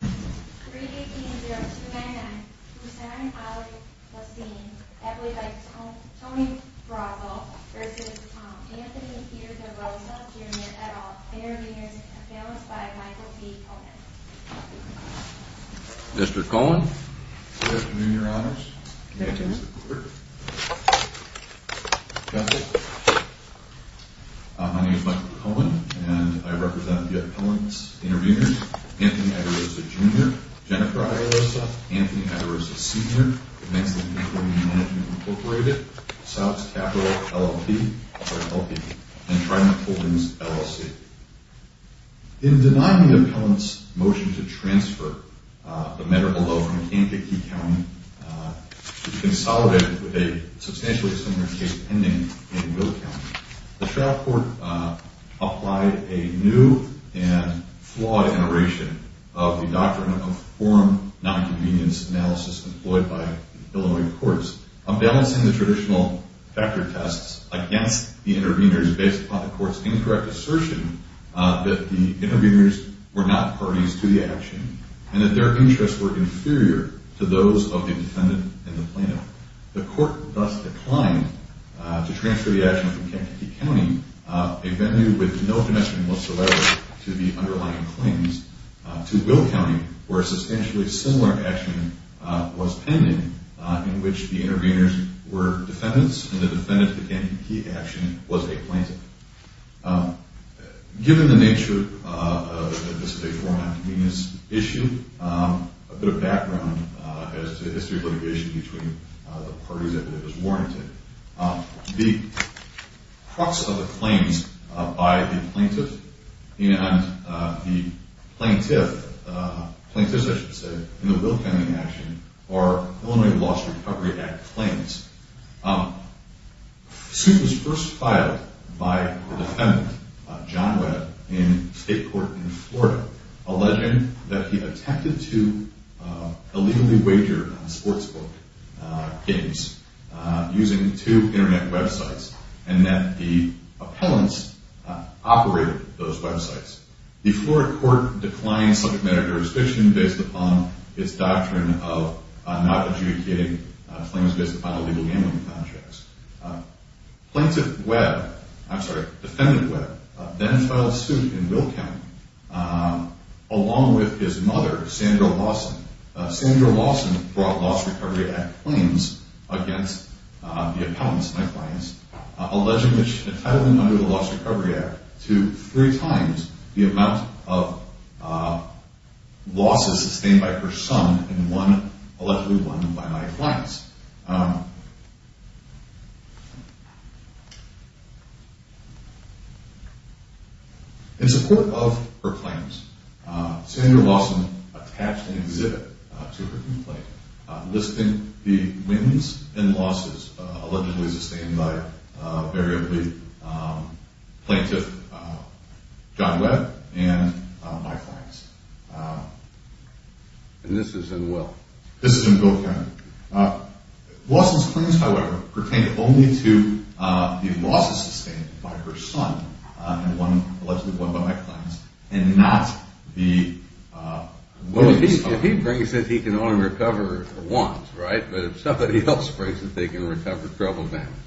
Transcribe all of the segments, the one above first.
3-18-0-2-9-9, Lucerne Ali-Lassine, accompanied by Tony Bravo, v. Anthony Peter DeRosa, Jr., et al., Intervenors, accompanied by Michael C. Cohen. Mr. Cohen. Good afternoon, Your Honors. Good afternoon. Justice. My name is Michael Cohen, and I represent the appellant's intervenors, Anthony A. DeRosa, Jr., Jennifer A. DeRosa, Anthony A. DeRosa, Sr., Manx-Lincoln Community Management Incorporated, South's Capital, LLP, and Trident Holdings, LLC. In denying the appellant's motion to transfer the medical bill from Kankakee County to be consolidated with a substantially similar case pending in Will County, the trial court applied a new and flawed iteration of the doctrine of forum nonconvenience analysis employed by Illinois courts, unbalancing the traditional factor tests against the intervenors based upon the court's incorrect assertion that the intervenors were not parties to the action and that their interests were inferior to those of the defendant and the plaintiff. The court thus declined to transfer the action from Kankakee County, a venue with no connection whatsoever to the underlying claims, to Will County, where a substantially similar action was pending in which the intervenors were defendants and the defendant's Kankakee action was a plaintiff. Given the nature of this forum nonconvenience issue, a bit of background as to the history of litigation between the parties that it was warranted, the crux of the claims by the plaintiff and the plaintiff, plaintiffs, I should say, in the Will County action are Illinois Laws Recovery Act claims. The suit was first filed by the defendant, John Webb, in state court in Florida, alleging that he attempted to illegally wager on sportsbook games using two internet websites and that the appellants operated those websites. The Florida court declined subject matter jurisdiction based upon its doctrine of not adjudicating claims based upon illegal gambling contracts. Plaintiff Webb, I'm sorry, defendant Webb, then filed a suit in Will County along with his mother, Sandra Lawson. Sandra Lawson brought Laws Recovery Act claims against the appellants, my clients, alleging that she had entitled them under the Laws Recovery Act to three times the amount of losses sustained by her son and one allegedly won by my clients. In support of her claims, Sandra Lawson attached an exhibit to her complaint listing the wins and losses allegedly sustained by a very elite plaintiff, John Webb, and my clients. And this is in Will? This is in Will County. Lawson's claims, however, pertain only to the losses sustained by her son and one allegedly won by my clients and not the... Well, if he brings it, he can only recover once, right? But if somebody else brings it, they can recover a couple of amounts.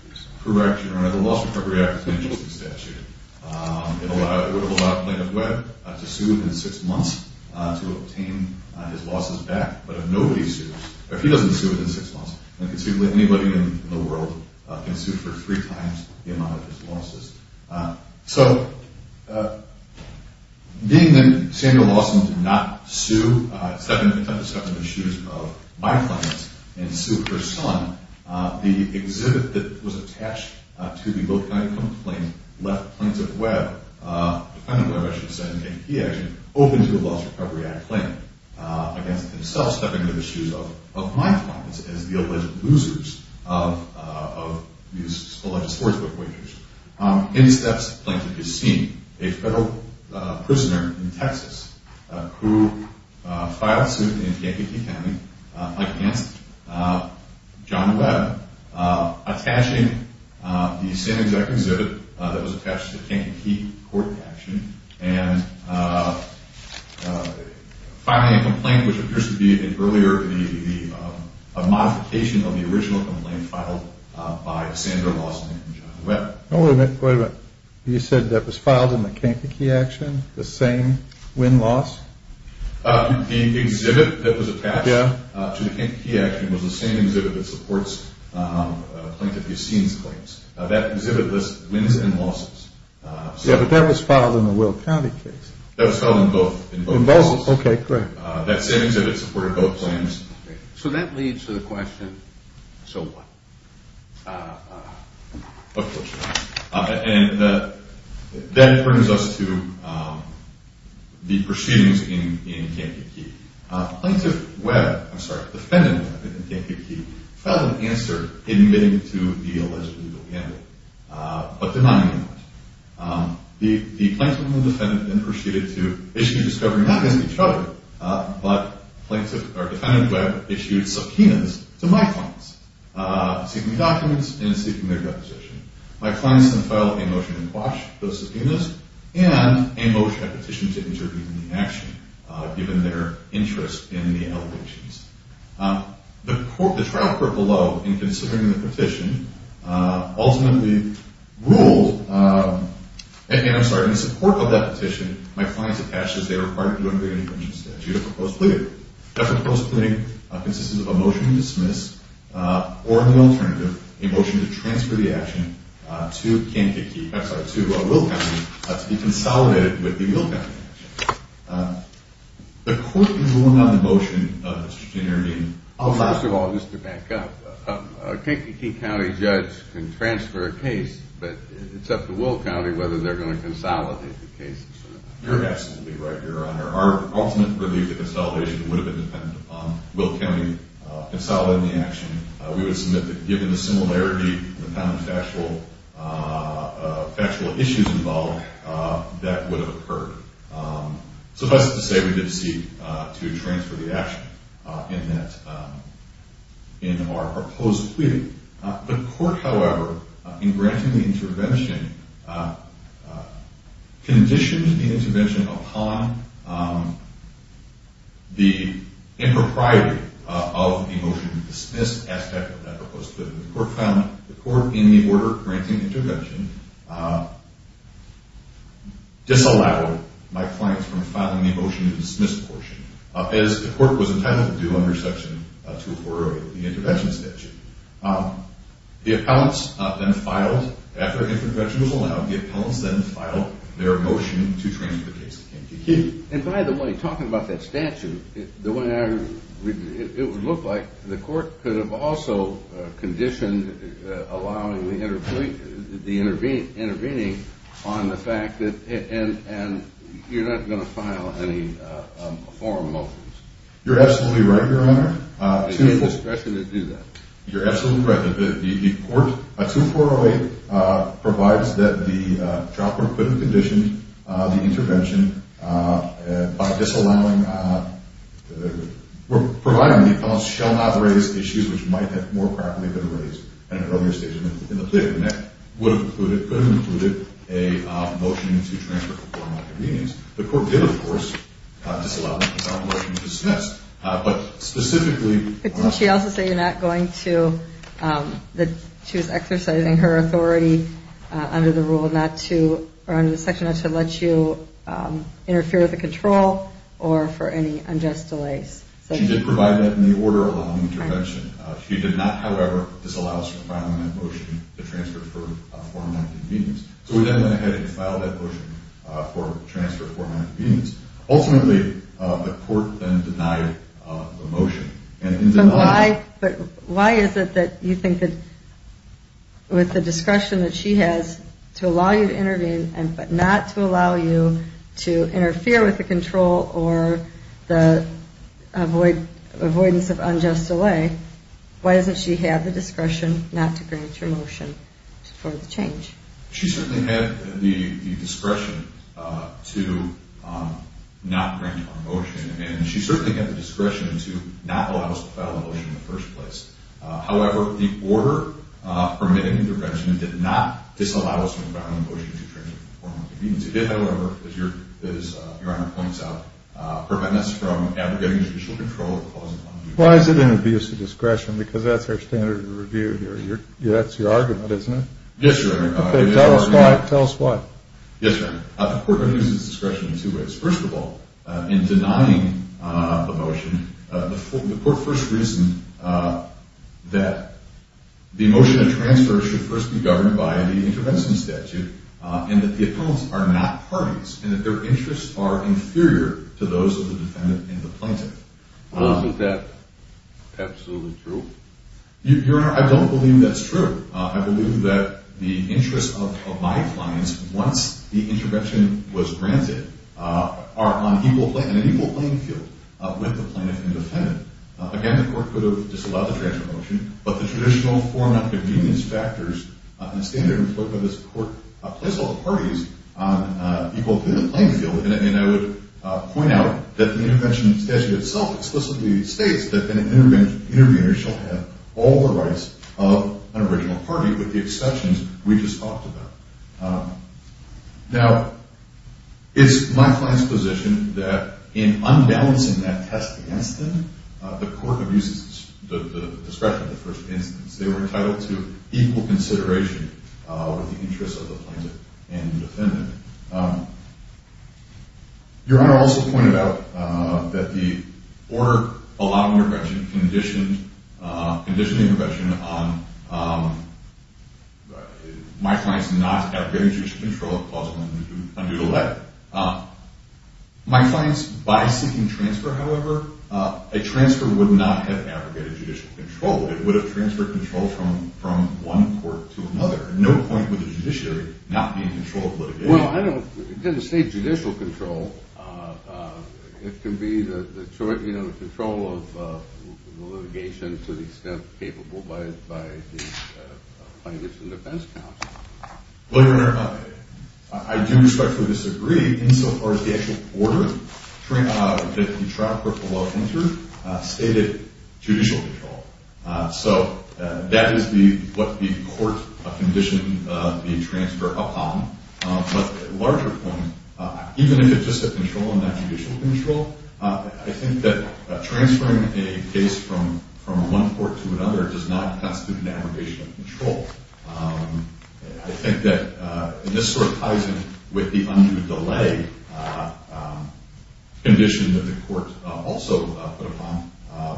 Correct, Your Honor. The Laws Recovery Act is an interesting statute. It would allow Plaintiff Webb to sue within six months to obtain his losses back. But if nobody sues, or if he doesn't sue within six months, then considerably anybody in the world can sue for three times the amount of his losses. So, being that Sandra Lawson did not sue, stepping into the shoes of my clients and sue her son, the exhibit that was attached to the Will County complaint left Plaintiff Webb, defendant Webb, I should have said, and he actually opened the Laws Recovery Act claim against himself, stepping into the shoes of my clients as the alleged losers of these alleged sportsbook wagers. In steps Plaintiff is seen, a federal prisoner in Texas who filed a suit in Yankee County against John Webb, attaching the same exact exhibit that was attached to the Yankee County court action and filing a complaint which appears to be, earlier, a modification of the original complaint filed by Sandra Lawson and John Webb. Wait a minute, wait a minute. You said that was filed in the Kankakee action, the same win-loss? The exhibit that was attached to the Kankakee action was the same exhibit that supports Plaintiff Yassin's claims. That exhibit lists wins and losses. Yeah, but that was filed in the Will County case. That was filed in both cases. In both? Okay, great. That same exhibit supported both claims. So that leads to the question, so what? And that brings us to the proceedings in Kankakee. Plaintiff Webb, I'm sorry, defendant Webb in Kankakee filed an answer admitting to the alleged legal gamble, but denying it. The plaintiff and the defendant then proceeded to issue a discovery not against each other, but defendant Webb issued subpoenas to my clients. Seeking documents and seeking their deposition. My clients then filed a motion to quash those subpoenas and a motion, a petition to intervene in the action, given their interest in the allegations. The trial court below, in considering the petition, ultimately ruled, and I'm sorry, in support of that petition, my clients attached as they were required to agree to an infringement statute of proposed pleading. Definite proposed pleading consists of a motion to dismiss, or an alternative, a motion to transfer the action to Kankakee, I'm sorry, to Will County, to be consolidated with the Will County action. The court is ruling on the motion to intervene. First of all, just to back up, a Kankakee County judge can transfer a case, but it's up to Will County whether they're going to consolidate the case. You're absolutely right, Your Honor. Our ultimate belief that the consolidation would have been dependent upon Will County consolidating the action. We would submit that given the similarity, the amount of factual issues involved, that would have occurred. Suffice it to say, we did seek to transfer the action in that, in our proposed pleading. The court, however, in granting the intervention, conditioned the intervention upon the impropriety of the motion to dismiss aspect of that proposed pleading. The court found the court, in the order granting intervention, disallowed my clients from filing the motion to dismiss portion, as the court was entitled to do under section 204 of the intervention statute. The appellants then filed, after intervention was allowed, the appellants then filed their motion to transfer the case to Kankakee. And by the way, talking about that statute, the way it would look like, the court could have also conditioned allowing the intervening on the fact that you're not going to file any formal motions. You're absolutely right, Your Honor. It would be indiscretion to do that. You're absolutely correct. The court, 2408, provides that the trial court couldn't condition the intervention by disallowing, providing the appellants shall not raise issues which might have more probably been raised at an earlier stage in the plea. And that would have included, could have included, a motion to transfer before my convenience. The court did, of course, disallow that motion to dismiss. But specifically... But didn't she also say you're not going to, that she was exercising her authority under the rule not to, or under the section not to let you interfere with the control or for any unjust delays? She did provide that in the order allowing intervention. She did not, however, disallow us from filing that motion to transfer for formal convenience. So we then went ahead and filed that motion for transfer for my convenience. Ultimately, the court then denied the motion. But why, but why is it that you think that with the discretion that she has to allow you to intervene, but not to allow you to interfere with the control or the avoidance of unjust delay, why doesn't she have the discretion not to grant your motion for the change? She certainly had the discretion to not grant our motion. And she certainly had the discretion to not allow us to file the motion in the first place. However, the order permitting the intervention did not disallow us from filing the motion to transfer for my convenience. It did, however, as Your Honor points out, prevent us from abrogating judicial control of the clause of... Why is it an abuse of discretion? Because that's our standard of review here. That's your argument, isn't it? Yes, Your Honor. Tell us why, tell us why. Yes, Your Honor. The court abuses discretion in two ways. First of all, in denying the motion, the court first reasoned that the motion of transfer should first be governed by the intervention statute and that the appellants are not parties and that their interests are inferior to those of the defendant and the plaintiff. Is that absolutely true? Your Honor, I don't believe that's true. I believe that the interests of my clients, once the intervention was granted, are on an equal playing field with the plaintiff and defendant. Again, the court could have disallowed the transfer motion, but the traditional format of convenience factors and the standard employed by this court place all the parties on an equal playing field. And I would point out that the intervention statute itself explicitly states that the intervener shall have all the rights of an original party, with the exceptions we just talked about. Now, it's my client's position that in unbalancing that test against them, the court abuses the discretion of the first instance. They were entitled to equal consideration with the interests of the plaintiff and defendant. Your Honor also pointed out that the order allowing intervention conditioned the intervention on my client's not abrogating judicial control of the clause under the letter. My client's, by seeking transfer, however, a transfer would not have abrogated judicial control. It would have transferred control from one court to another. No point would the judiciary not be in control of litigation. Well, it doesn't state judicial control. It can be the control of litigation to the extent capable by the plaintiffs and defense counsel. Well, Your Honor, I do respectfully disagree insofar as the actual order that the trial court below entered stated judicial control. So that is what the court conditioned the transfer upon. But a larger point, even if it's just a control and not judicial control, I think that transferring a case from one court to another does not constitute an abrogation of control. I think that this sort of ties in with the undue delay condition that the court also put upon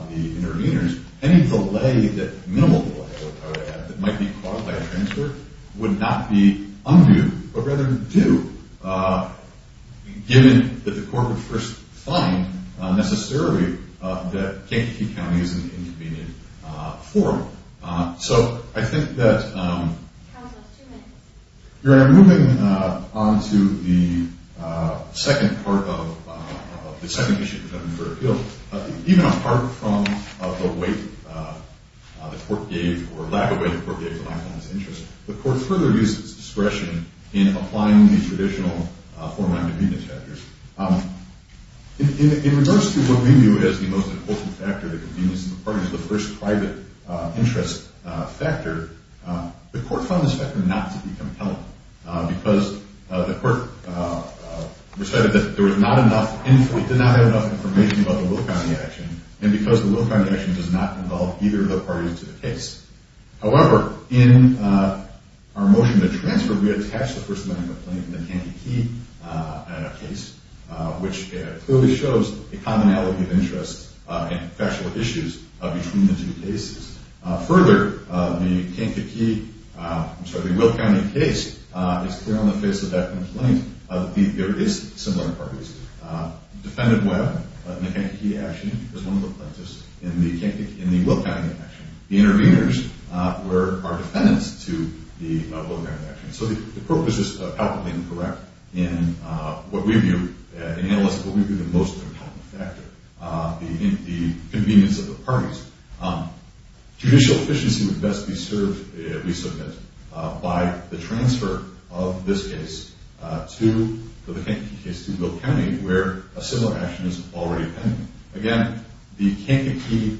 the interveners. Any delay, minimal delay, that might be caused by a transfer would not be undue, but rather due, given that the court would first find, necessarily, that Kankakee County is an inconvenient forum. So I think that... How was that, two minutes? Your Honor, moving on to the second part of the second issue that I'm referring to, even apart from the weight the court gave, or lack of weight the court gave to my client's interest, the court further used its discretion in applying the traditional four non-convenience factors. In regards to what we view as the most important factor, the convenience of the parties, the first private interest factor, the court found this factor not to be compelling, because the court decided that there was not enough, did not have enough information about the Will County action, and because the Will County action does not involve either of the parties in the case. However, in our motion to transfer, we attach the first line of complaint, the Kankakee case, which clearly shows a commonality of interest and professional issues between the two cases. Further, the Kankakee... I'm sorry, the Will County case is clear on the face of that complaint that there is similar parties. Defendant Webb in the Kankakee action was one of the plaintiffs in the Will County action. The intervenors were our defendants to the Will County action. So the court was just palpably incorrect in analyzing what we view as the most important factor, the convenience of the parties. Judicial efficiency would best be served, we submit, by the transfer of this case to the Kankakee case, to Will County, where a similar action is already pending. Again, the Kankakee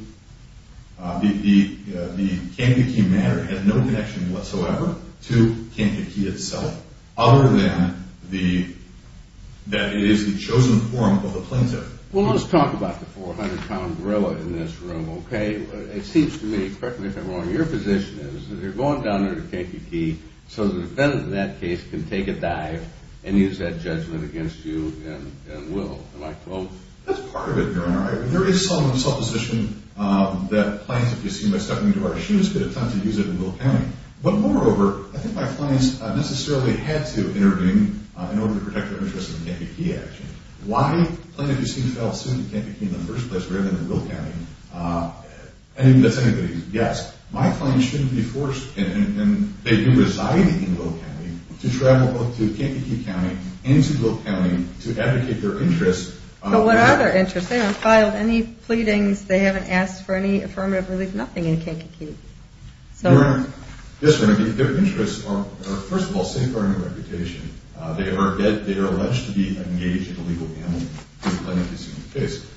matter has no connection whatsoever to Kankakee itself, other than that it is the chosen form of the plaintiff. Well, let's talk about the 400-pound gorilla in this room, okay? It seems to me, correct me if I'm wrong, your position is that you're going down there to Kankakee so the defendant in that case can take a dive and use that judgment against you and Will. That's part of it, Your Honor. There is some supposition that plaintiffs could attempt to use it in Will County. But moreover, I think my clients necessarily had to intervene in order to protect their interests in the Kankakee action. Why plaintiffs seem to fail to sue the Kankakee in the first place, rather than the Will County? I think that's anybody's guess. My clients shouldn't be forced, and they do reside in Will County, to travel both to Kankakee County and to Will County to advocate their interests. But what are their interests? They haven't filed any pleadings, they haven't asked for any affirmative relief, nothing in Kankakee. Yes, Your Honor, their interests are, first of all, safeguarding their reputation. They are alleged to be engaged in illegal gambling in the plaintiff's case.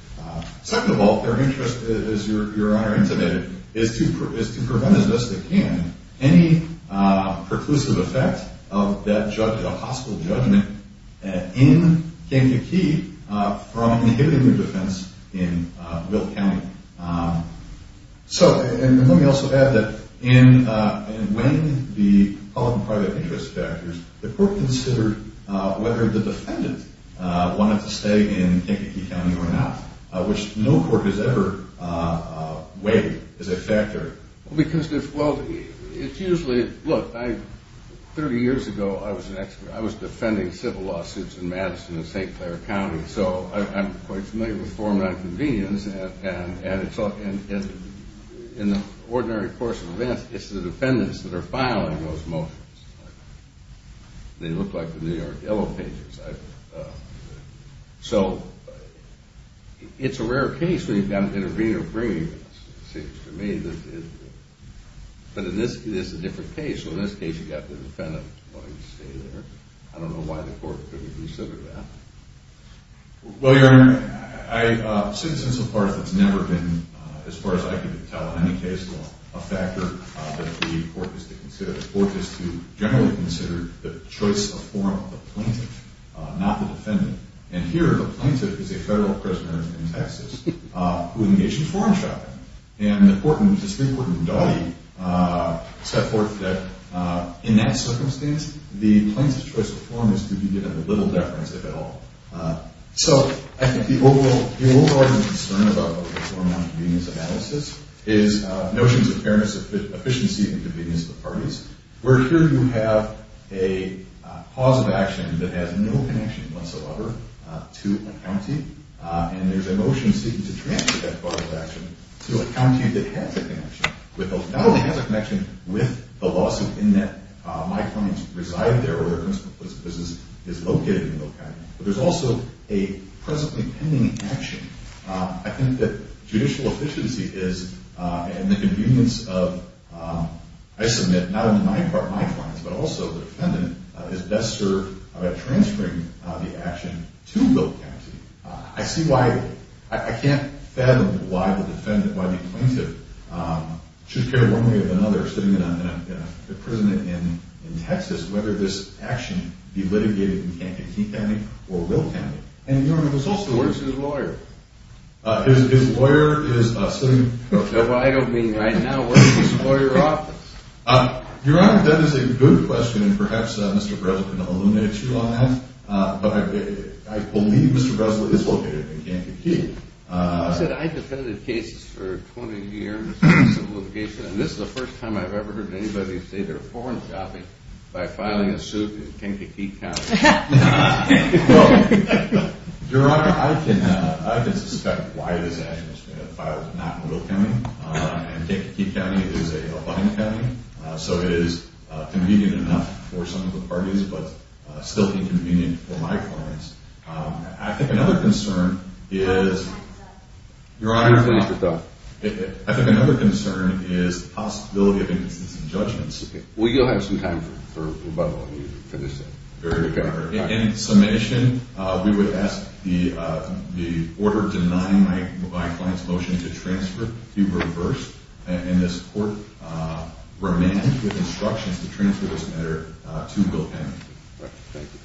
Second of all, their interest, as Your Honor intimated, is to prevent, as best they can, any perclusive effect of that judgment, a hostile judgment, in Kankakee from inhibiting their defense in Will County. So, and let me also add that, in weighing the public and private interest factors, the court considered whether the defendant wanted to stay in Kankakee County or not, which no court has ever weighed as a factor. Because, well, it's usually, look, 30 years ago I was an expert, I was defending civil lawsuits in Madison and St. Clair County, so I'm quite familiar with former inconvenience, and in the ordinary course of events, it's the defendants that are filing those motions. They look like the New York Yellow Pages. So, it's a rare case where you've got an intervener bringing this. It seems to me that, but this is a different case, so in this case, you've got the defendant wanting to stay there. I don't know why the court couldn't consider that. Well, Your Honor, I, since and so far, it's never been, as far as I can tell in any case law, a factor that the court is to consider. The court is to generally consider the choice of form of the plaintiff, not the defendant. And here, the plaintiff is a federal prisoner in Texas, who engaged in foreign shopping. And the court, which is the Supreme Court in Daughty, set forth that in that circumstance, the plaintiff's choice of form is to be given little deference, if at all. So, I think the overall concern about a form of inconvenience analysis is notions of fairness, efficiency, and convenience of the parties, where here you have a cause of action that has no connection whatsoever to a county, and there's a motion seeking to transfer that cause of action to a county that has a connection, not only has a connection with the lawsuit in that my clients reside there, or their business is located in Bill County, but there's also a presently pending action. I think that judicial efficiency is, and the convenience of, I submit, not only my clients, but also the defendant, is best served by transferring the action to Bill County. I can't fathom why the defendant, why the plaintiff, should care one way or another sitting in a prison in Texas, whether this action be litigated in Kentucky County or Bill County. Where's his lawyer? No, I don't mean right now. Where's his lawyer office? Your Honor, that is a good question, and perhaps Mr. Breslin will eliminate you on that, but I believe Mr. Breslin is located in Kankakee. I said I defended cases for 20 years in civil litigation, and this is the first time I've ever heard anybody say they're a foreign copy by filing a suit in Kankakee County. Your Honor, I can suspect why this action was filed, but not in Bill County, and Kankakee County is a budding county, so it is convenient enough for some of the parties, but still inconvenient for my clients. I think another concern is... Your Honor, I think another concern is the possibility of inconsistency judgments. Well, you'll have some time for rebuttal. In summation, we would ask that the order denying my client's motion to transfer be reversed, and this Court remains with instructions to transfer this matter to Bill County. Thank you.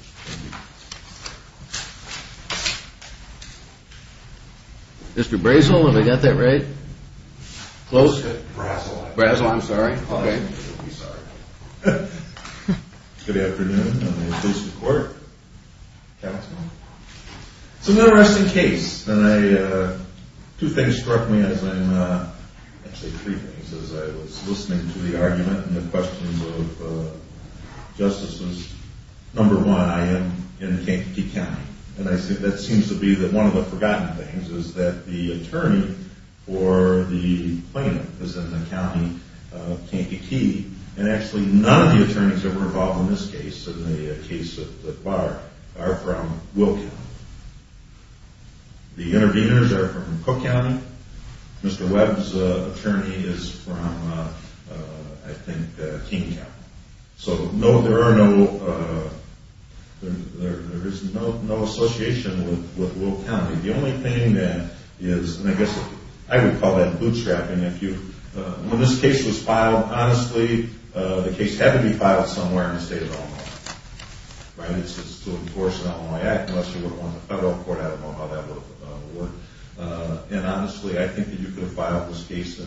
Mr. Breslin, have I got that right? Close? Breslin, I'm sorry. Good afternoon. Good afternoon. It's an interesting case, and two things struck me as I'm... Actually, three things as I was listening to the argument and the questions of justices. Number one, I am in Kankakee County, and that seems to be that one of the forgotten things is that the attorney for the plaintiff is in the county of Kankakee, and actually none of the attorneys that were involved in this case are from Will County. The interveners are from Cook County. Mr. Webb's attorney is from, I think, King County. So there is no association with Will County. The only thing that is... Honestly, the case had to be filed somewhere in the state of Illinois, right? It's to enforce an Illinois Act, unless you were on the federal court. I don't know how that would work. And honestly, I think that you could have filed this case in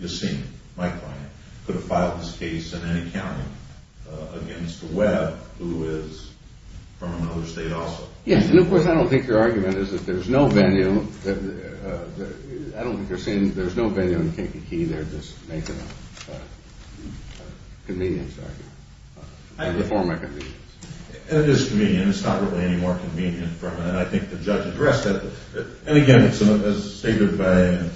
Yosemite, my client, could have filed this case in any county against Webb, who is from another state also. Yes, and of course, I don't think your argument is that there's no venue in Kankakee there to make it a convenience argument or to form a convenience. It is convenient. It's not really any more convenient. And I think the judge addressed that. And again, as stated by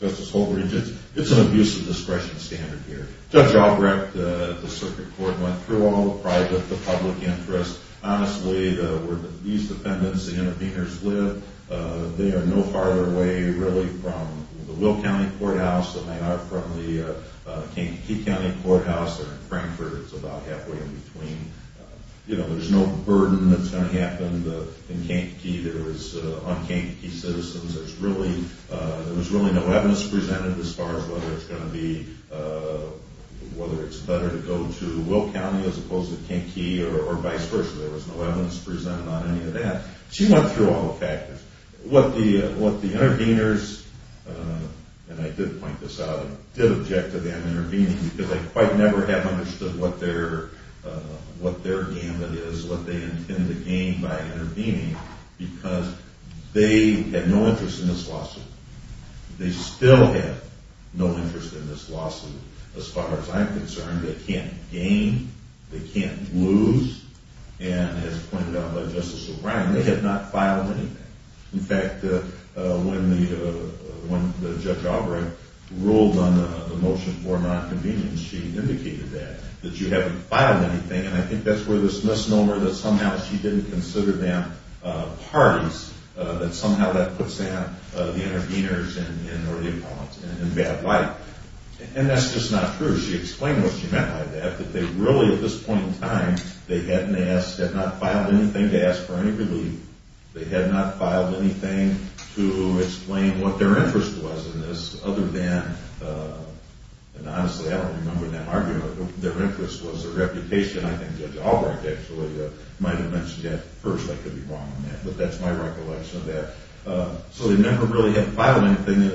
Justice Holbridge, it's an abuse of discretion standard here. Judge Albrecht, the circuit court, went through all the private, the public interest. Honestly, where these defendants, the interveners live, they are no farther away, really, from the Will County courthouse than they are from the Kankakee County courthouse. And in Frankfort, it's about halfway in between. There's no burden that's going to happen in Kankakee. There is un-Kankakee citizens. There was really no evidence presented as far as whether it's better to go to Will County as opposed to Kankakee or vice versa. There was no evidence presented on any of that. She went through all the factors. What the interveners, and I did point this out, did object to them intervening because they quite never have understood what their gamut is, what they intend to gain by intervening because they had no interest in this lawsuit. They still have no interest in this lawsuit as far as I'm concerned. They can't gain. They can't lose. And as pointed out by Justice O'Brien, they have not filed anything. In fact, when Judge Albrecht ruled on the motion for nonconvenience, she indicated that, that you haven't filed anything. And I think that's where this misnomer that somehow she didn't consider them parties, that somehow that puts the interveners or the opponents in bad light. And that's just not true. She explained what she meant by that, that they really at this point in time had not filed anything to ask for any relief. They had not filed anything to explain what their interest was in this other than, and honestly I don't remember that argument, but their interest was their reputation. I think Judge Albrecht actually might have mentioned that first. I could be wrong on that, but that's my recollection of that. So they never really had filed anything.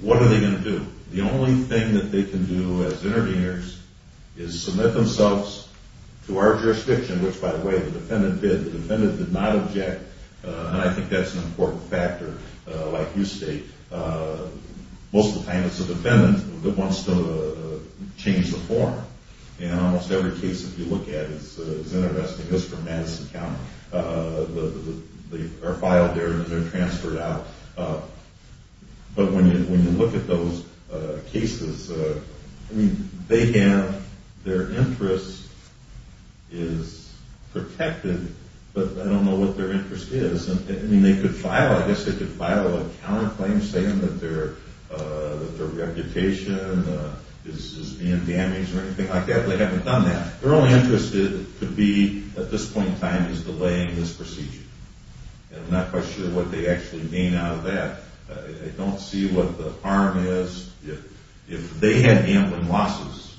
What are they going to do? The only thing that they can do as interveners is submit themselves to our jurisdiction, which, by the way, the defendant did. The defendant did not object, and I think that's an important factor, like you state. Most of the time it's the defendant that wants to change the form. And almost every case that you look at is intervesting. Those are from Madison County. They are filed there and they're transferred out. But when you look at those cases, their interest is protected, but I don't know what their interest is. I guess they could file a counterclaim saying that their reputation is being damaged or anything like that, but they haven't done that. Their only interest could be, at this point in time, is delaying this procedure. I'm not quite sure what they actually mean out of that. I don't see what the harm is. If they had gambling losses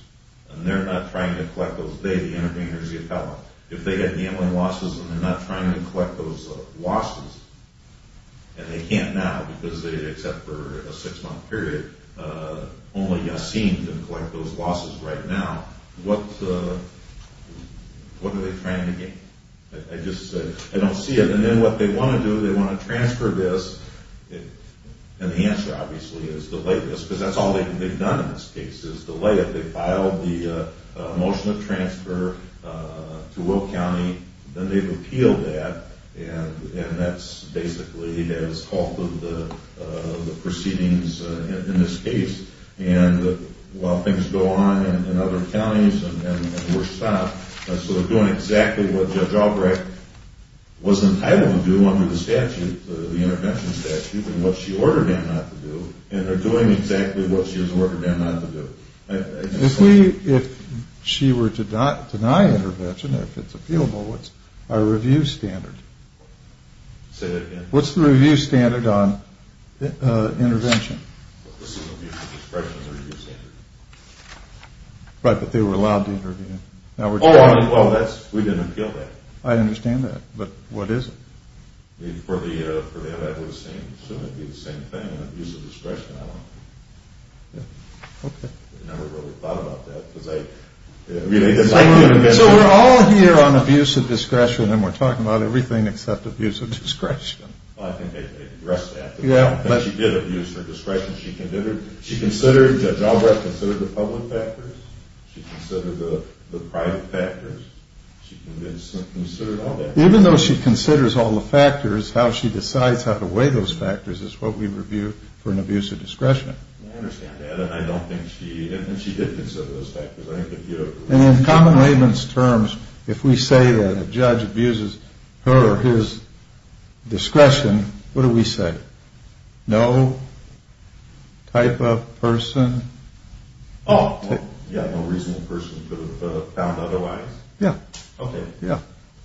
and they're not trying to collect those losses and they're not trying to collect those losses, and they can't now because they, except for a six-month period, only Yassine can collect those losses right now, what are they trying to gain? I don't see it. And then what they want to do, they want to transfer this, and the answer, obviously, is delay this because that's all they've done in this case, is delay it. They filed the motion of transfer to Will County and then they've appealed that and that's basically, that's half of the proceedings in this case. And while things go on in other counties and were stopped, they're doing exactly what Judge Albrecht was entitled to do under the statute, the intervention statute, and what she ordered them not to do and are doing exactly what she was ordered them not to do. If she were to deny intervention, if it's appealable, what's our review standard? Say that again? What's the review standard on intervention? This is abuse of discretion as a review standard. Right, but they were allowed to interview. Well, we didn't appeal that. I understand that, but what is it? For them, it would be the same thing, abuse of discretion. I never really thought about that. So we're all here on abuse of discretion and we're talking about everything except abuse of discretion. I think they addressed that. She did abuse her discretion. Judge Albrecht considered the public factors, she considered the private factors, she considered all that. Even though she considers all the factors, how she decides how to weigh those factors is what we review for an abuse of discretion. I understand that, and I don't think she did consider those factors. In common layman's terms, if we say that a judge abuses her or his discretion, what do we say? No type of person? Oh, yeah, no reasonable person could have found otherwise.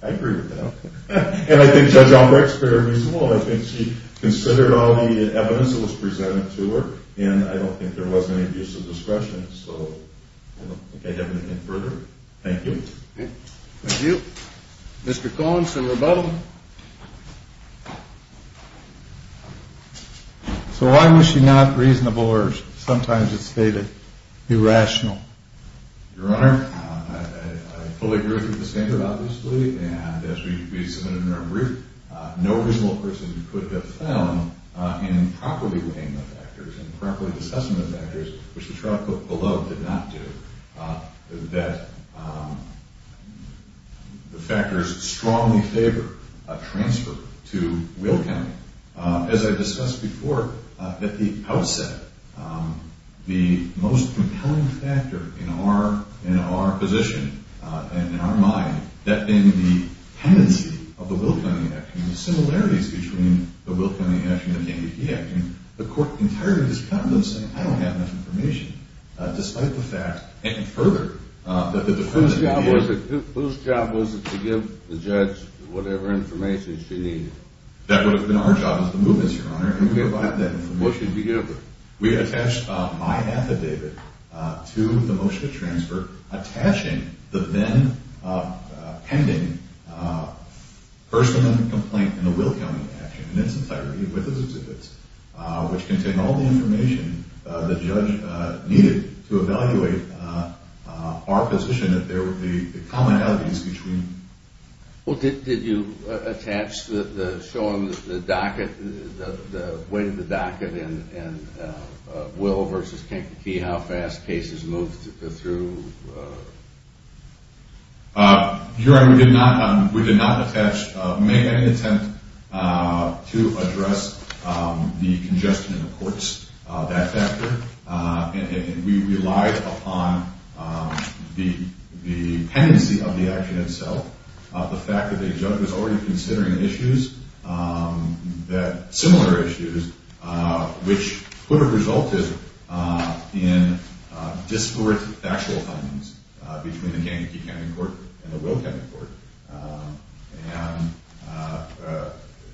I agree with that. And I think Judge Albrecht's very reasonable. I think she considered all the evidence that was presented to her and I don't think there was any abuse of discretion, so I don't think I have anything further. Thank you. Thank you. Mr. Collins for rebuttal. So why was she not reasonable or sometimes it's stated, irrational? Your Honor, I fully agree with what was stated, obviously, and as we submitted in our brief, no reasonable person could have found improperly weighing the factors and improperly assessing the factors, which the trial below did not do. The factors strongly favor a transfer to Will County. As I discussed before, that the outset, the most compelling factor in our position and in our mind, that being the tendency of the Will County Action and the similarities between the Will County Action and the ADP Action, the Court entirely discounted and said, I don't have enough information, despite the fact, and further, Whose job was it to give the judge whatever information she needed? That would have been our job as the movement, Your Honor, and we have that information. What should we give her? We attached my affidavit to the motion to transfer attaching the then pending personal complaint in the Will County Action in its entirety with those exhibits, which contained all the information the judge needed to evaluate our position that the commonalities between... Well, did you attach the show on the docket, the weight of the docket in Will versus Kankakee, how fast cases moved through? Your Honor, we did not attach, make any attempt to address the congestion in the courts, that factor, and we relied upon the tendency of the action itself, the fact that the judge was already considering issues, similar issues, which could have resulted in discorded factual findings between the Kankakee County Court and the Will County Court, and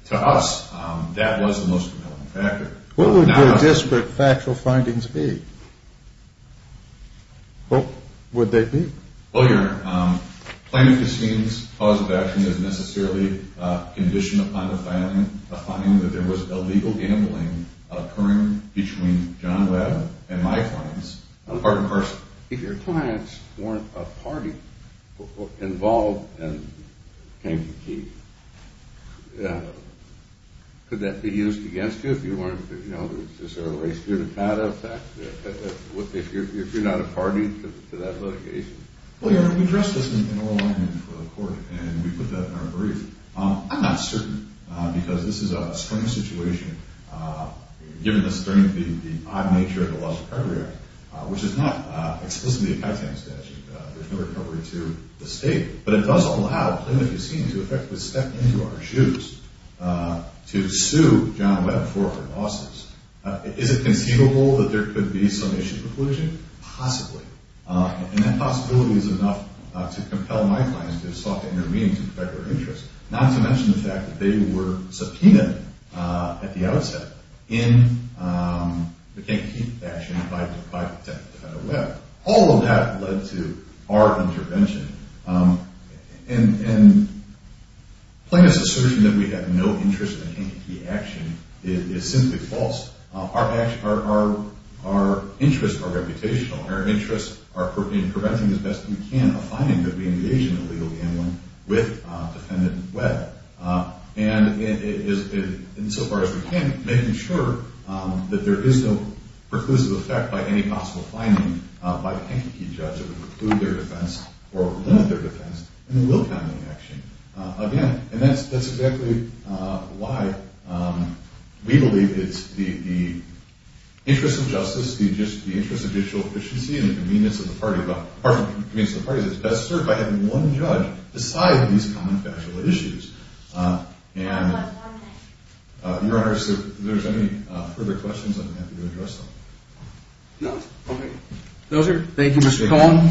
to us, that was the most prevailing factor. What would your disparate factual findings be? What would they be? Well, Your Honor, Plaintiff assumes cause of action is necessarily conditioned upon the finding that there was illegal gambling occurring between John Webb and my clients, part and parcel. If your clients weren't a party involved in Kankakee, could that be used against you if you're not a party to that litigation? Well, Your Honor, we addressed this in oral argument for the court, and we put that in our brief. I'm not certain, because this is a strange situation, given the strange, the odd nature of the Laws of Recovery Act, which is not explicitly a Kytan statute. There's no recovery to the state, but it does allow Plaintiff, it seems, to effectively step into our shoes to sue John Webb for her losses. Is it conceivable that there could be some issue conclusion? Possibly, and that possibility is enough to compel my clients to have sought to intervene to protect their interests, not to mention the fact that they were subpoenaed at the outset in the Kankakee action by Defendant Webb. All of that led to our intervention. And Plaintiff's assertion that we have no interest in the Kankakee action is simply false. Our interests are reputational. Our interests are in preventing, as best we can, a finding that we engage in illegal gambling with Defendant Webb. And in so far as we can, making sure that there is no preclusive effect by any possible finding by the Kankakee judge that would preclude their defense or limit their defense in the Will County action. And that's exactly why we believe it's the interest of justice, the interest of judicial efficiency, and the convenience of the party that's best served by having one judge decide these common factual issues. Your Honor, if there's any further questions, I'm happy to address them. Thank you, Mr. Cohn.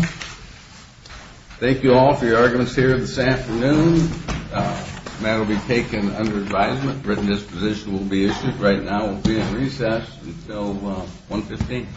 Thank you all for your arguments here this afternoon. The matter will be taken under advisement. Written disposition will be issued. The hearing right now will be in recess until 1 p.m.